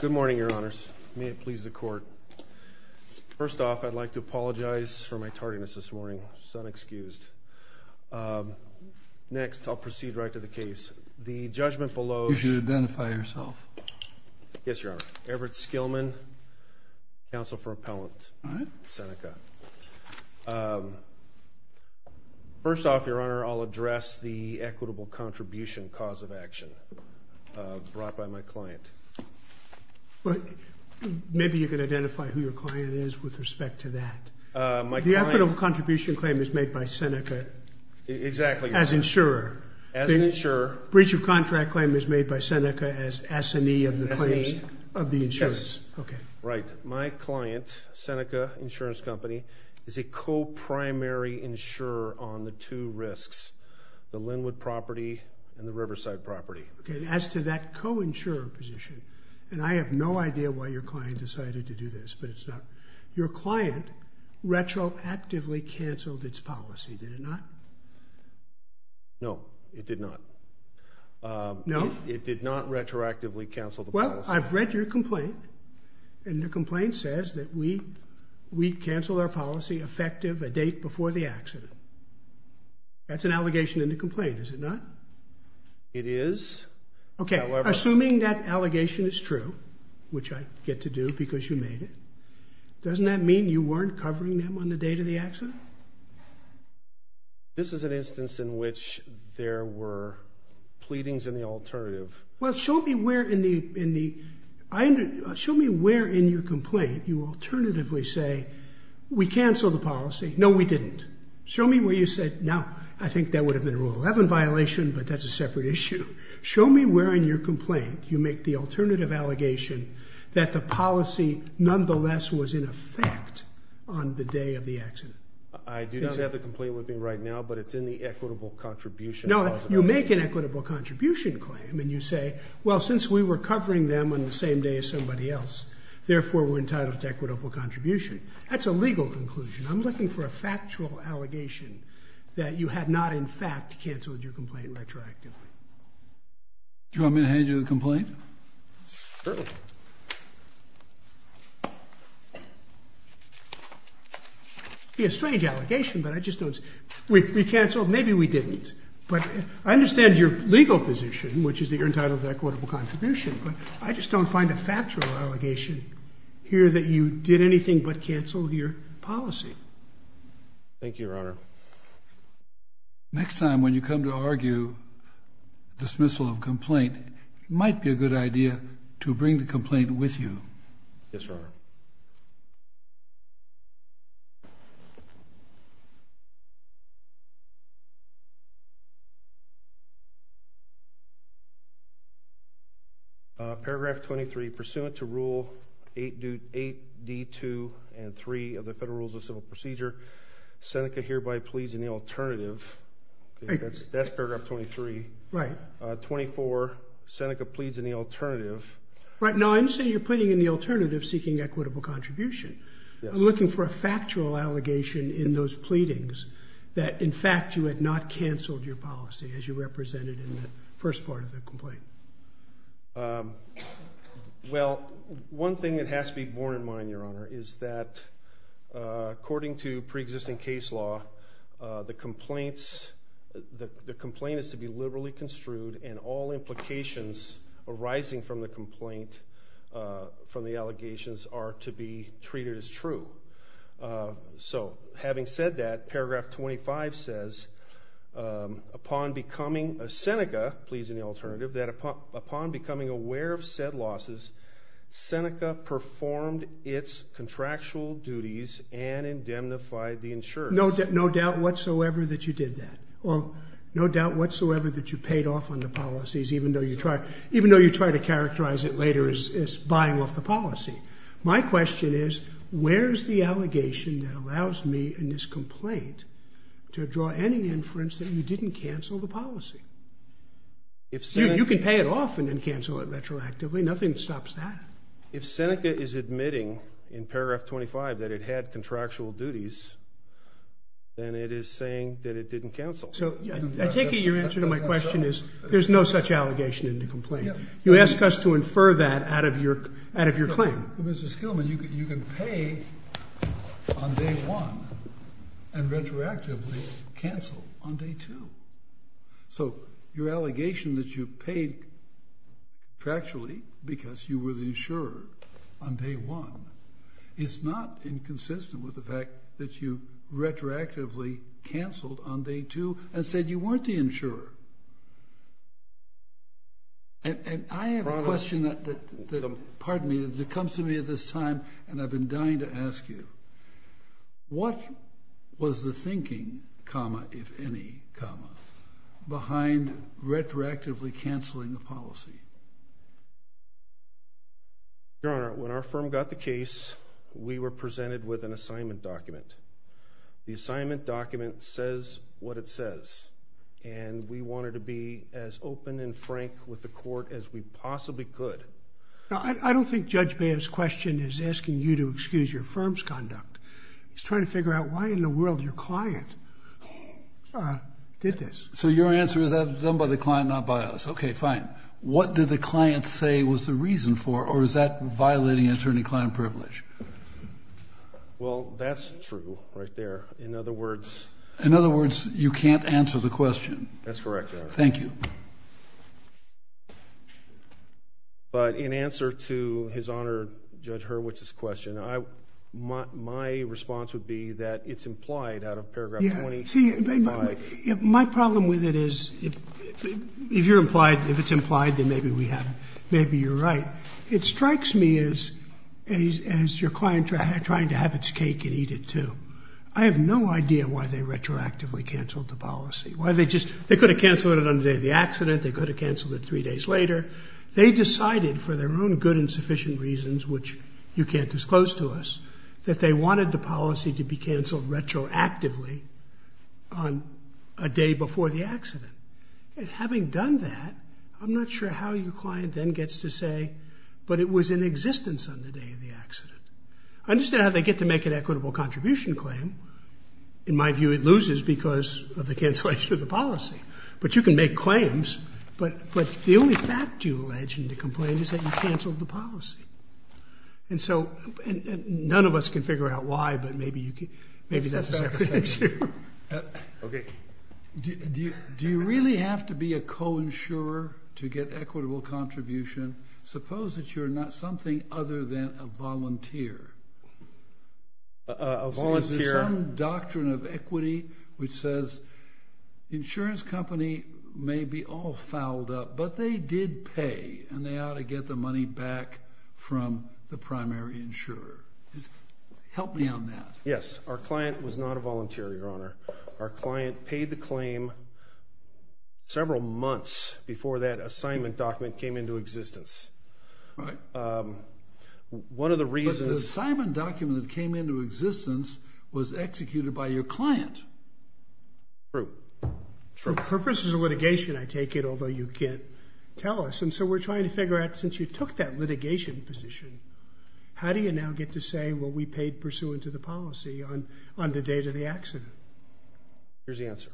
Good morning, Your Honors. May it please the Court. First off, I'd like to apologize for my tardiness this morning. It's unexcused. Next, I'll proceed right to the case. The judgment below… You should identify yourself. Yes, Your Honor. Everett Skillman, Counsel for Appellant. All right. Seneca. First off, Your Honor, I'll address the equitable contribution cause of action brought by my client. Maybe you can identify who your client is with respect to that. My client… The equitable contribution claim is made by Seneca… Exactly. …as insurer. As insurer. The breach of contract claim is made by Seneca as S&E of the claims… S&E. …of the insurance. Yes. Okay. Right. My client, Seneca Insurance Company, is a co-primary insurer on the two risks, the Linwood property and the Riverside property. Okay. As to that co-insurer position, and I have no idea why your client decided to do this, but it's not… Your client retroactively canceled its policy, did it not? No, it did not. No? It did not retroactively cancel the policy. I've read your complaint, and the complaint says that we canceled our policy effective a date before the accident. That's an allegation in the complaint, is it not? It is. Okay. However… Assuming that allegation is true, which I get to do because you made it, doesn't that mean you weren't covering them on the date of the accident? This is an instance in which there were pleadings in the alternative. Well, show me where in your complaint you alternatively say, we canceled the policy. No, we didn't. Show me where you said, no, I think that would have been a Rule 11 violation, but that's a separate issue. Show me where in your complaint you make the alternative allegation that the policy nonetheless was in effect on the day of the accident. I do not have the complaint with me right now, but it's in the equitable contribution clause. No, you make an equitable contribution claim, and you say, well, since we were covering them on the same day as somebody else, therefore we're entitled to equitable contribution. That's a legal conclusion. I'm looking for a factual allegation that you had not in fact canceled your complaint retroactively. Do you want me to hand you the complaint? Sure. It would be a strange allegation, but I just don't see it. We canceled. Maybe we didn't. But I understand your legal position, which is that you're entitled to equitable contribution, but I just don't find a factual allegation here that you did anything but cancel your policy. Thank you, Your Honor. Next time when you come to argue dismissal of complaint, it might be a good idea to bring the complaint with you. Yes, Your Honor. Thank you. Paragraph 23, pursuant to Rule 8D2 and 3 of the Federal Rules of Civil Procedure, Seneca hereby pleads in the alternative. That's paragraph 23. Right. 24, Seneca pleads in the alternative. Right. No, I understand you're pleading in the alternative seeking equitable contribution. Yes. I'm looking for a factual allegation in those pleadings that in fact you had not canceled your policy as you represented in the first part of the complaint. Well, one thing that has to be borne in mind, Your Honor, is that according to preexisting case law, the complaint is to be liberally construed and all implications arising from the complaint from the allegations are to be treated as true. So, having said that, paragraph 25 says, upon becoming a Seneca, pleads in the alternative, that upon becoming aware of said losses, Seneca performed its contractual duties and indemnified the insurers. No doubt whatsoever that you did that. No doubt whatsoever that you paid off on the policies even though you try to characterize it later as buying off the policy. My question is, where's the allegation that allows me in this complaint to draw any inference that you didn't cancel the policy? You can pay it off and then cancel it retroactively. Nothing stops that. If Seneca is admitting in paragraph 25 that it had contractual duties, then it is saying that it didn't cancel. So, I take it your answer to my question is there's no such allegation in the complaint. You ask us to infer that out of your claim. Mr. Skillman, you can pay on day one and retroactively cancel on day two. So, your allegation that you paid contractually because you were the insurer on day one is not inconsistent with the fact that you retroactively canceled on day two and said you weren't the insurer. I have a question that comes to me at this time and I've been dying to ask you. What was the thinking, if any, behind retroactively canceling the policy? Your Honor, when our firm got the case, we were presented with an assignment document. The assignment document says what it says. And we wanted to be as open and frank with the court as we possibly could. Now, I don't think Judge Bam's question is asking you to excuse your firm's conduct. He's trying to figure out why in the world your client did this. So, your answer is that it was done by the client, not by us. Okay, fine. What did the client say was the reason for or is that violating attorney-client privilege? Well, that's true right there. In other words? In other words, you can't answer the question. That's correct, Your Honor. Thank you. But in answer to His Honor Judge Hurwitz's question, my response would be that it's implied out of paragraph 25. Yeah, see, my problem with it is if you're implied, if it's implied, then maybe you're right. It strikes me as your client trying to have its cake and eat it too. I have no idea why they retroactively canceled the policy. They could have canceled it on the day of the accident. They could have canceled it three days later. They decided for their own good and sufficient reasons, which you can't disclose to us, that they wanted the policy to be canceled retroactively on a day before the accident. And having done that, I'm not sure how your client then gets to say, but it was in existence on the day of the accident. I understand how they get to make an equitable contribution claim. In my view, it loses because of the cancellation of the policy. But you can make claims, but the only fact you allege and to complain is that you canceled the policy. And so none of us can figure out why, but maybe that's a separate issue. Okay. Do you really have to be a co-insurer to get equitable contribution? Suppose that you're not something other than a volunteer. A volunteer. Is there some doctrine of equity which says the insurance company may be all fouled up, but they did pay and they ought to get the money back from the primary insurer? Help me on that. Our client was not a volunteer, Your Honor. Our client paid the claim several months before that assignment document came into existence. Right. One of the reasons. But the assignment document that came into existence was executed by your client. True. True. For purposes of litigation, I take it, although you can't tell us. And so we're trying to figure out, since you took that litigation position, how do you now get to say what we paid pursuant to the policy on the date of the accident? Here's the answer.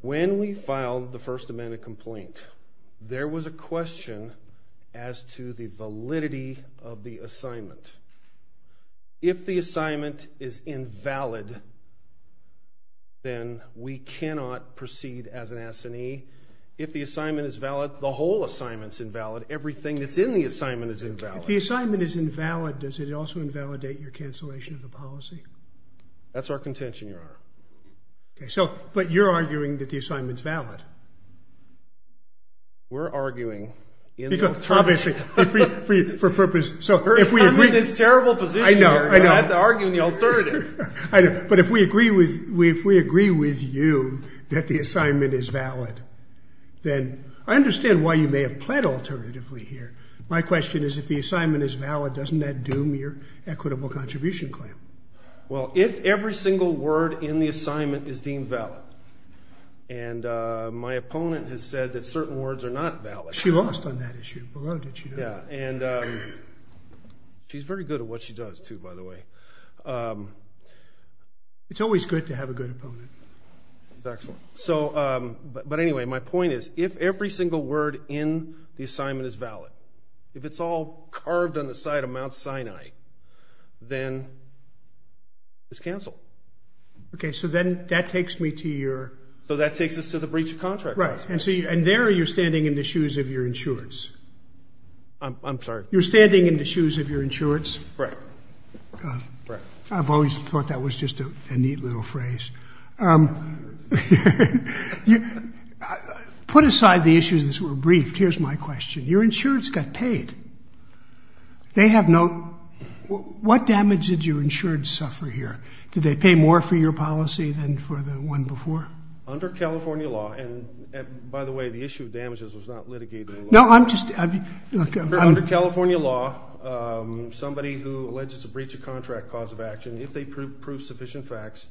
When we filed the First Amendment complaint, there was a question as to the validity of the assignment. If the assignment is invalid, then we cannot proceed as an assignee. If the assignment is valid, the whole assignment's invalid. Everything that's in the assignment is invalid. If the assignment is invalid, does it also invalidate your cancellation of the policy? That's our contention, Your Honor. Okay. But you're arguing that the assignment's valid. We're arguing in the alternative. Obviously, for purpose. I'm in this terrible position here. I know. But if we agree with you that the assignment is valid, then I understand why you may have pled alternatively here. My question is, if the assignment is valid, doesn't that doom your equitable contribution claim? Well, if every single word in the assignment is deemed valid, and my opponent has said that certain words are not valid. She lost on that issue. Yeah, and she's very good at what she does, too, by the way. It's always good to have a good opponent. Excellent. But anyway, my point is, if every single word in the assignment is valid, if it's all carved on the side of Mount Sinai, then it's canceled. Okay. So then that takes me to your— So that takes us to the breach of contract process. Right. And there you're standing in the shoes of your insurance. I'm sorry? You're standing in the shoes of your insurance. Right. I've always thought that was just a neat little phrase. Put aside the issues that were briefed. Here's my question. Your insurance got paid. They have no—what damage did your insurance suffer here? Did they pay more for your policy than for the one before? Under California law, and by the way, the issue of damages was not litigated in law. No, I'm just— Under California law, somebody who alleges a breach of contract cause of action, if they prove sufficient facts,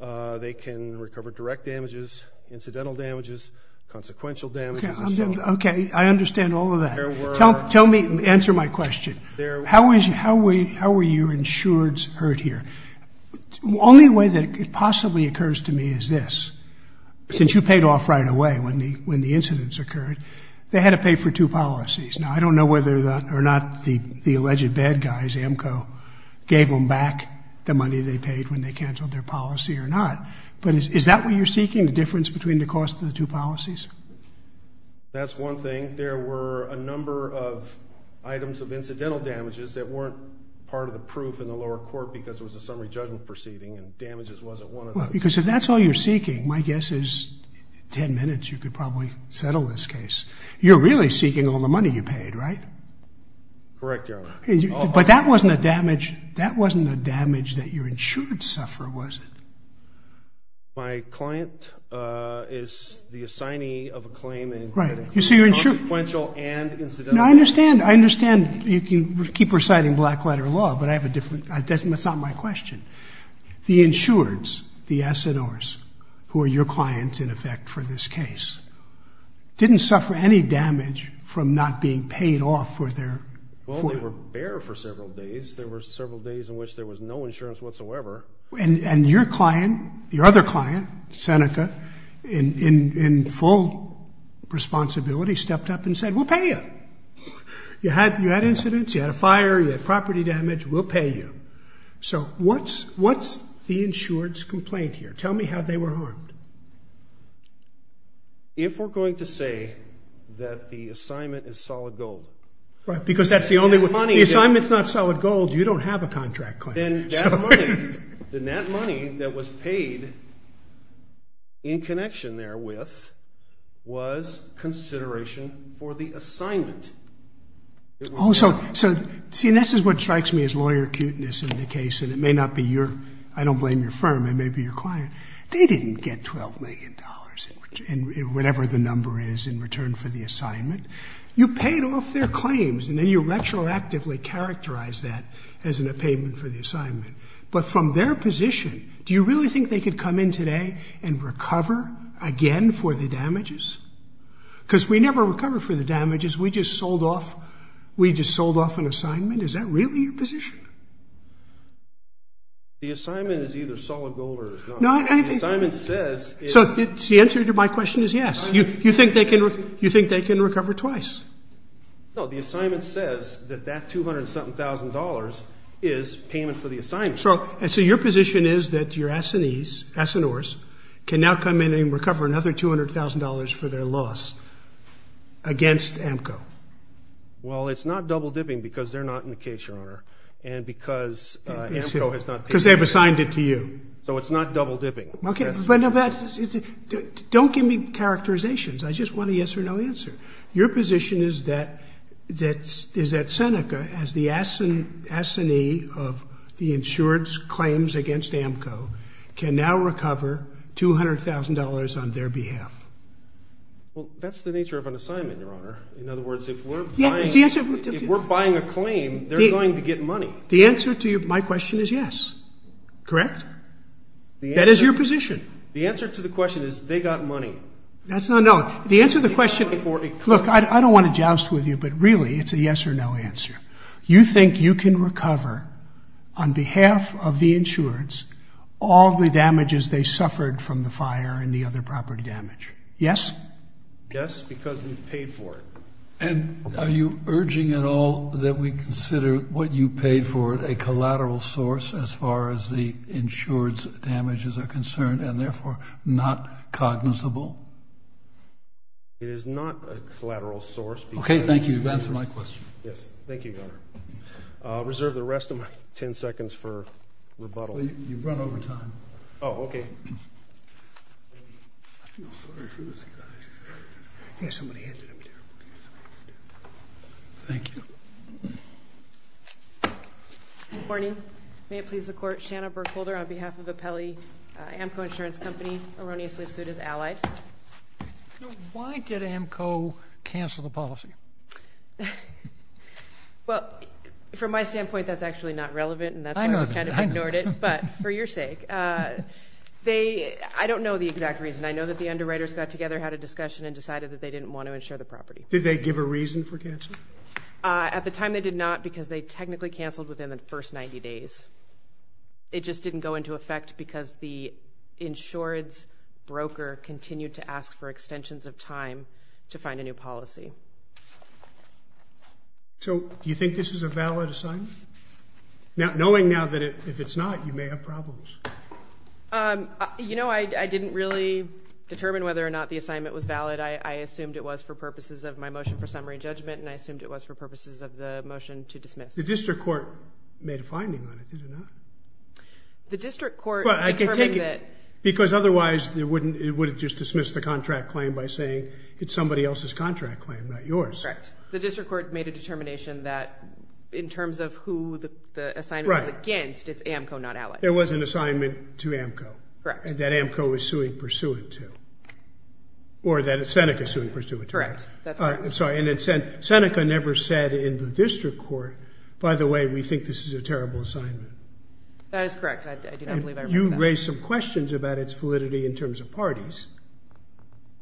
they can recover direct damages, incidental damages, consequential damages. Okay. I understand all of that. There were— Answer my question. How were your insureds hurt here? The only way that it possibly occurs to me is this. Since you paid off right away when the incidents occurred, they had to pay for two policies. Now, I don't know whether or not the alleged bad guys, AMCO, gave them back the money they paid when they canceled their policy or not, but is that what you're seeking, the difference between the cost of the two policies? That's one thing. There were a number of items of incidental damages that weren't part of the proof in the lower court because it was a summary judgment proceeding and damages wasn't one of them. Well, because if that's all you're seeking, my guess is in 10 minutes you could probably settle this case. You're really seeking all the money you paid, right? Correct, Your Honor. But that wasn't a damage that your insured suffered, was it? My client is the assignee of a claim in both consequential and incidental. I understand. I understand. You can keep reciting black-letter law, but I have a different—that's not my question. The insureds, the S&Rs, who are your clients in effect for this case, didn't suffer any damage from not being paid off for their— Well, they were bare for several days. There were several days in which there was no insurance whatsoever. And your client, your other client, Seneca, in full responsibility, stepped up and said, we'll pay you. You had incidents. You had a fire. You had property damage. We'll pay you. So what's the insured's complaint here? Tell me how they were harmed. If we're going to say that the assignment is solid gold— Right, because that's the only— The money that— The assignment's not solid gold. You don't have a contract claim. Then that money that was paid in connection there with was consideration for the assignment. Oh, so—see, and this is what strikes me as lawyer cuteness in the case, and it may not be your—I don't blame your firm. It may be your client. They didn't get $12 million in whatever the number is in return for the assignment. You paid off their claims, and then you retroactively characterized that as a payment for the assignment. But from their position, do you really think they could come in today and recover again for the damages? Because we never recovered for the damages. We just sold off an assignment. Is that really your position? The assignment is either solid gold or it's not. The assignment says— So the answer to my question is yes. You think they can recover twice? No, the assignment says that that $200-something thousand is payment for the assignment. So your position is that your assignees, assineurs, can now come in and recover another $200,000 for their loss against AMCO? Well, it's not double-dipping because they're not in the case, Your Honor, and because AMCO has not— Because they have assigned it to you. So it's not double-dipping. Okay, but don't give me characterizations. I just want a yes or no answer. Your position is that Seneca, as the assignee of the insured's claims against AMCO, can now recover $200,000 on their behalf? Well, that's the nature of an assignment, Your Honor. In other words, if we're buying a claim, they're going to get money. The answer to my question is yes, correct? That is your position. The answer to the question is they got money. That's not—no, the answer to the question— Look, I don't want to joust with you, but really, it's a yes or no answer. You think you can recover, on behalf of the insured's, all the damages they suffered from the fire and the other property damage, yes? Yes, because we've paid for it. And are you urging at all that we consider what you paid for it a collateral source, as far as the insured's damages are concerned, and therefore not cognizable? It is not a collateral source. Okay, thank you. You've answered my question. Yes, thank you, Your Honor. Reserve the rest of my 10 seconds for rebuttal. You've run over time. Oh, okay. I feel sorry for this guy. Here, somebody handed him to you. Thank you. Good morning. May it please the Court, Shanna Burkholder, on behalf of Appelli Amco Insurance Company, erroneously sued as allied. Why did Amco cancel the policy? Well, from my standpoint, that's actually not relevant, and that's why I kind of ignored it. I know that. I know. I don't know the exact reason. I know that the underwriters got together, had a discussion, and decided that they didn't want to insure the property. Did they give a reason for canceling? At the time, they did not, because they technically canceled within the first 90 days. It just didn't go into effect because the insured's broker continued to ask for extensions of time to find a new policy. So do you think this is a valid assignment? Knowing now that if it's not, you may have problems. You know, I didn't really determine whether or not the assignment was valid. I assumed it was for purposes of my motion for summary judgment, and I assumed it was for purposes of the motion to dismiss. The district court made a finding on it, did it not? The district court determined that— Because otherwise, it would have just dismissed the contract claim by saying it's somebody else's contract claim, not yours. Correct. The district court made a determination that in terms of who the assignment was against, it's AMCO, not ALEC. There was an assignment to AMCO. Correct. That AMCO is suing pursuant to. Or that Seneca is suing pursuant to. Correct. I'm sorry. Seneca never said in the district court, by the way, we think this is a terrible assignment. That is correct. I do not believe I remember that. You raised some questions about its validity in terms of parties.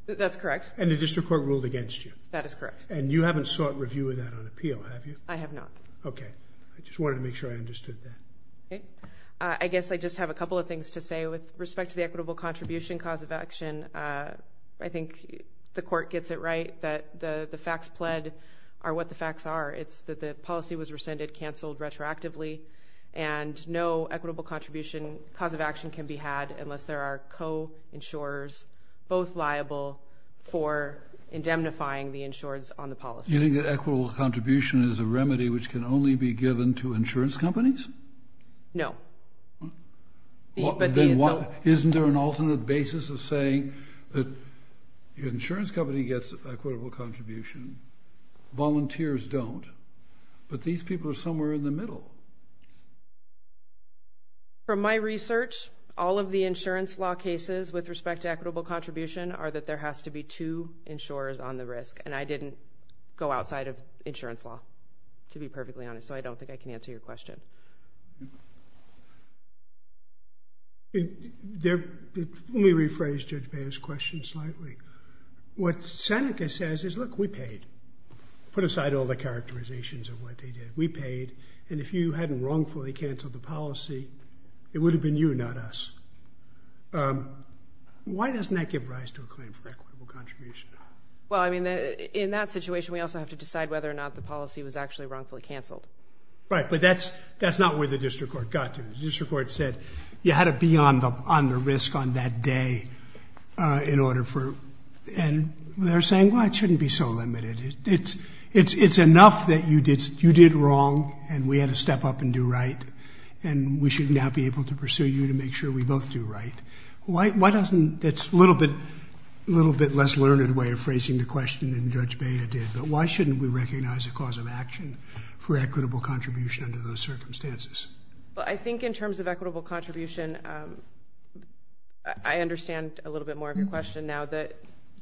That's correct. And the district court ruled against you. That is correct. And you haven't sought review of that on appeal, have you? I have not. Okay. I just wanted to make sure I understood that. Okay. I guess I just have a couple of things to say with respect to the equitable contribution cause of action. I think the court gets it right that the facts pled are what the facts are. It's that the policy was rescinded, canceled retroactively, and no equitable contribution cause of action can be had unless there are co-insurers both liable for indemnifying the insurers on the policy. You think that equitable contribution is a remedy which can only be given to insurance companies? No. Isn't there an alternate basis of saying that the insurance company gets equitable contribution, volunteers don't, but these people are somewhere in the middle? From my research, all of the insurance law cases with respect to equitable contribution are that there has to be two insurers on the risk. And I didn't go outside of insurance law, to be perfectly honest. So I don't think I can answer your question. Let me rephrase Judge Baez's question slightly. What Seneca says is, look, we paid. Put aside all the characterizations of what they did. We paid. And if you hadn't wrongfully canceled the policy, it would have been you, not us. Why doesn't that give rise to a claim for equitable contribution? Well, I mean, in that situation, we also have to decide whether or not the policy was actually wrongfully canceled. Right. But that's not where the district court got to. The district court said you had to be on the risk on that day in order for— and they're saying, well, it shouldn't be so limited. It's enough that you did wrong and we had to step up and do right. And we should now be able to pursue you to make sure we both do right. Why doesn't—that's a little bit less learned way of phrasing the question than Judge Baez did. But why shouldn't we recognize a cause of action for equitable contribution under those circumstances? Well, I think in terms of equitable contribution, I understand a little bit more of your question now.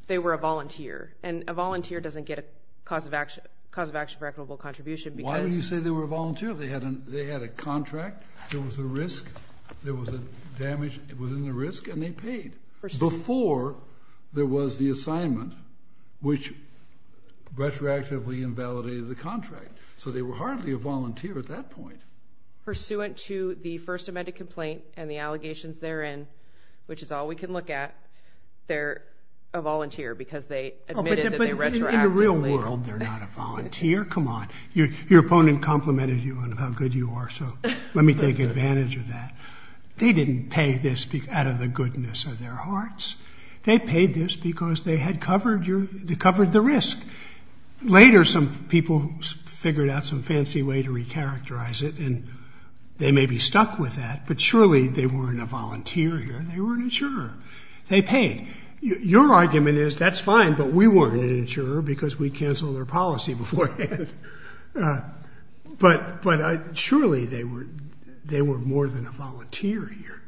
They were a volunteer. And a volunteer doesn't get a cause of action for equitable contribution because— Why do you say they were a volunteer? They had a contract. There was a risk. There was a damage within the risk, and they paid before there was the assignment, which retroactively invalidated the contract. So they were hardly a volunteer at that point. Pursuant to the First Amendment complaint and the allegations therein, which is all we can look at, they're a volunteer because they admitted that they retroactively— But in the real world, they're not a volunteer. Come on. Your opponent complimented you on how good you are, so let me take advantage of that. They didn't pay this out of the goodness of their hearts. They paid this because they had covered the risk. Later, some people figured out some fancy way to recharacterize it, and they may be stuck with that. But surely they weren't a volunteer here. They were an insurer. They paid. Your argument is that's fine, but we weren't an insurer because we canceled their policy beforehand. But surely they were more than a volunteer here.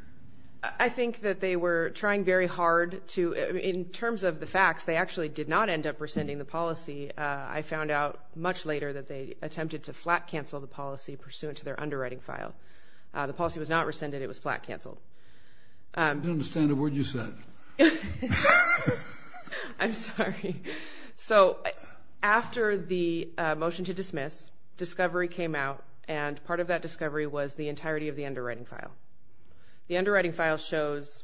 I think that they were trying very hard to—in terms of the facts, they actually did not end up rescinding the policy. I found out much later that they attempted to flat cancel the policy pursuant to their underwriting file. The policy was not rescinded. It was flat canceled. I don't understand a word you said. I'm sorry. So after the motion to dismiss, discovery came out, and part of that discovery was the entirety of the underwriting file. The underwriting file shows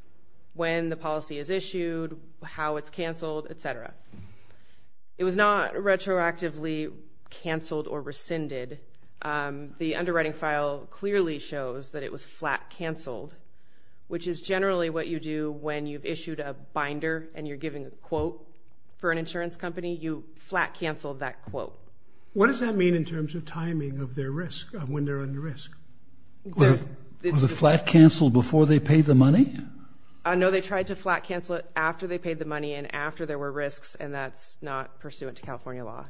when the policy is issued, how it's canceled, et cetera. It was not retroactively canceled or rescinded. The underwriting file clearly shows that it was flat canceled, which is generally what you do when you've issued a binder and you're giving a quote for an insurance company. You flat cancel that quote. What does that mean in terms of timing of their risk, when they're under risk? Was it flat canceled before they paid the money? No, they tried to flat cancel it after they paid the money and after there were risks, and that's not pursuant to California law.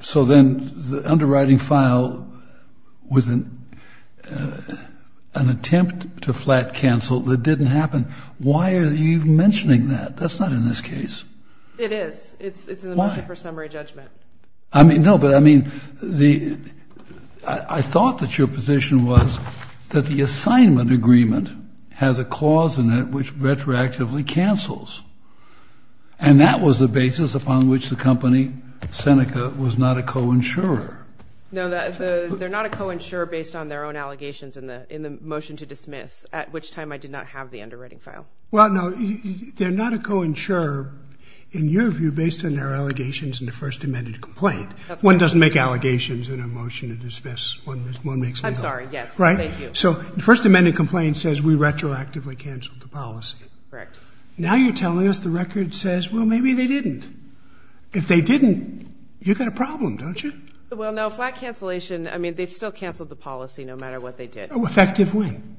So then the underwriting file was an attempt to flat cancel that didn't happen. Why are you mentioning that? That's not in this case. It is. Why? It's in the motion for summary judgment. No, but I mean, I thought that your position was that the assignment agreement has a clause in it which retroactively cancels, and that was the basis upon which the company, Seneca, was not a co-insurer. No, they're not a co-insurer based on their own allegations in the motion to dismiss, at which time I did not have the underwriting file. Well, no, they're not a co-insurer in your view based on their allegations in the First Amendment complaint. That's right. One doesn't make allegations in a motion to dismiss. I'm sorry, yes. Right? Thank you. So the First Amendment complaint says we retroactively canceled the policy. Correct. Now you're telling us the record says, well, maybe they didn't. If they didn't, you've got a problem, don't you? Well, no, flat cancellation, I mean, they've still canceled the policy no matter what they did. Effective when?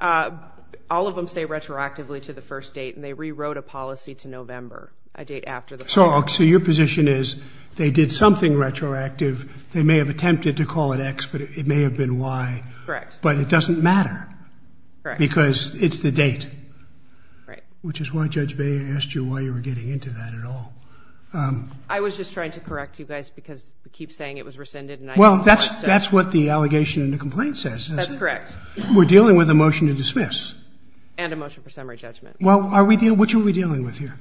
All of them say retroactively to the first date, and they rewrote a policy to November, a date after the first date. So your position is they did something retroactive. They may have attempted to call it X, but it may have been Y. Correct. But it doesn't matter. Correct. Because it's the date. Right. Which is why Judge Baeyer asked you why you were getting into that at all. I was just trying to correct you guys because you keep saying it was rescinded. Well, that's what the allegation in the complaint says. That's correct. We're dealing with a motion to dismiss. And a motion for summary judgment. Well, what are we dealing with here?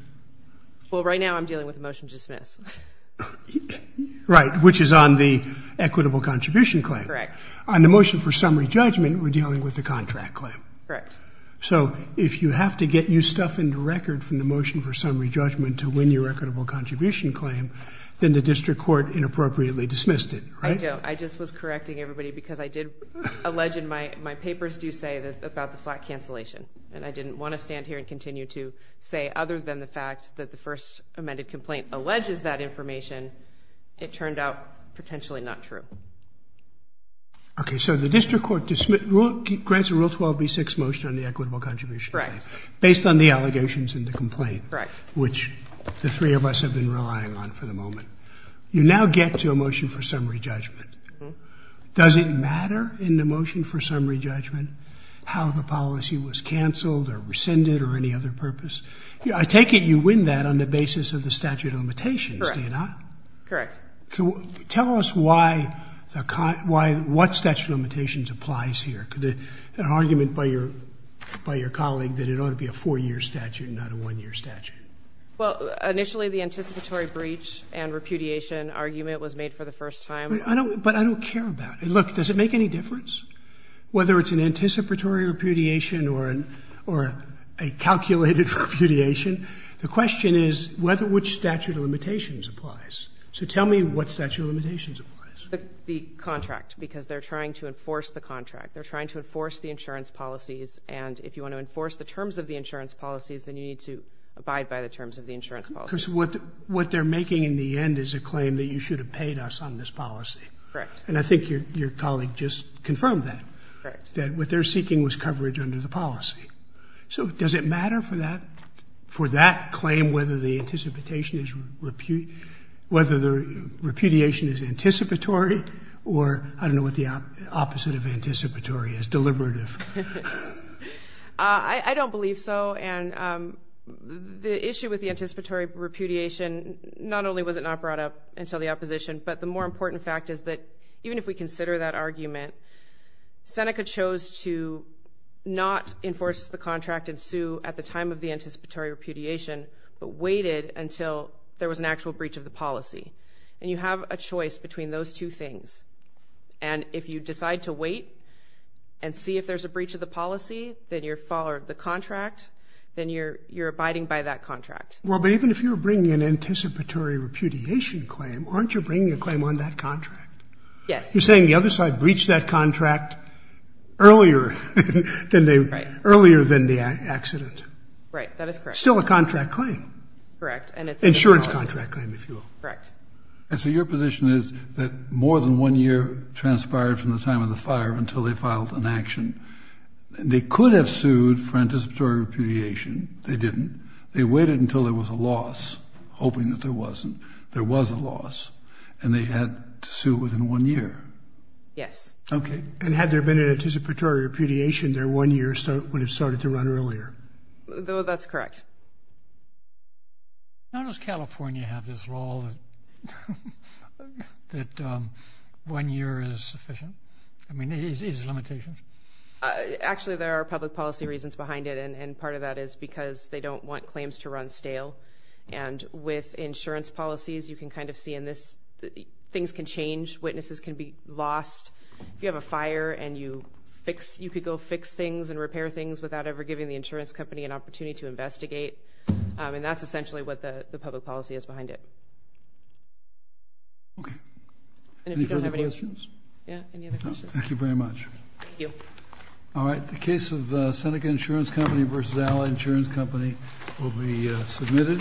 Well, right now I'm dealing with a motion to dismiss. Right, which is on the equitable contribution claim. Correct. On the motion for summary judgment, we're dealing with the contract claim. Correct. So if you have to get new stuff into record from the motion for summary judgment to win your equitable contribution claim, then the district court inappropriately dismissed it, right? I do. I just was correcting everybody because I did allege, and my papers do say, about the flat cancellation. And I didn't want to stand here and continue to say, other than the fact that the first amended complaint alleges that information, it turned out potentially not true. Okay. So the district court grants a Rule 12b-6 motion on the equitable contribution claim. Correct. Based on the allegations in the complaint. Correct. Which the three of us have been relying on for the moment. You now get to a motion for summary judgment. Does it matter in the motion for summary judgment how the policy was canceled or rescinded or any other purpose? I take it you win that on the basis of the statute of limitations, do you not? Correct. Tell us what statute of limitations applies here. An argument by your colleague that it ought to be a four-year statute and not a one-year statute. Well, initially the anticipatory breach and repudiation argument was made for the first time. But I don't care about it. Look, does it make any difference whether it's an anticipatory repudiation or a calculated repudiation? The question is which statute of limitations applies. So tell me what statute of limitations applies. The contract. Because they're trying to enforce the contract. They're trying to enforce the insurance policies. And if you want to enforce the terms of the insurance policies, then you need to abide by the terms of the insurance policies. Because what they're making in the end is a claim that you should have paid us on this policy. Correct. Correct. That what they're seeking was coverage under the policy. So does it matter for that claim whether the repudiation is anticipatory or I don't know what the opposite of anticipatory is, deliberative? I don't believe so. And the issue with the anticipatory repudiation, not only was it not brought up until the opposition, but the more important fact is that even if we consider that argument, Seneca chose to not enforce the contract and sue at the time of the anticipatory repudiation, but waited until there was an actual breach of the policy. And you have a choice between those two things. And if you decide to wait and see if there's a breach of the policy, then you're a follower of the contract, then you're abiding by that contract. Well, but even if you're bringing an anticipatory repudiation claim, aren't you bringing a claim on that contract? Yes. You're saying the other side breached that contract earlier than the accident. Right. That is correct. Still a contract claim. Correct. Insurance contract claim, if you will. Correct. And so your position is that more than one year transpired from the time of the fire until they filed an action. They could have sued for anticipatory repudiation. They didn't. They waited until there was a loss, hoping that there wasn't. And they had to sue within one year. Yes. Okay. And had there been an anticipatory repudiation, their one year would have started to run earlier. That's correct. How does California have this law that one year is sufficient? I mean, is there limitations? Actually, there are public policy reasons behind it. And part of that is because they don't want claims to run stale. And with insurance policies, you can kind of see in this, things can change, witnesses can be lost. If you have a fire and you fix, you could go fix things and repair things without ever giving the insurance company an opportunity to investigate. And that's essentially what the public policy is behind it. Okay. Any further questions? Yeah. Any other questions? No. Thank you very much. Thank you. All right. The case of Seneca Insurance Company v. Ally Insurance Company will be submitted.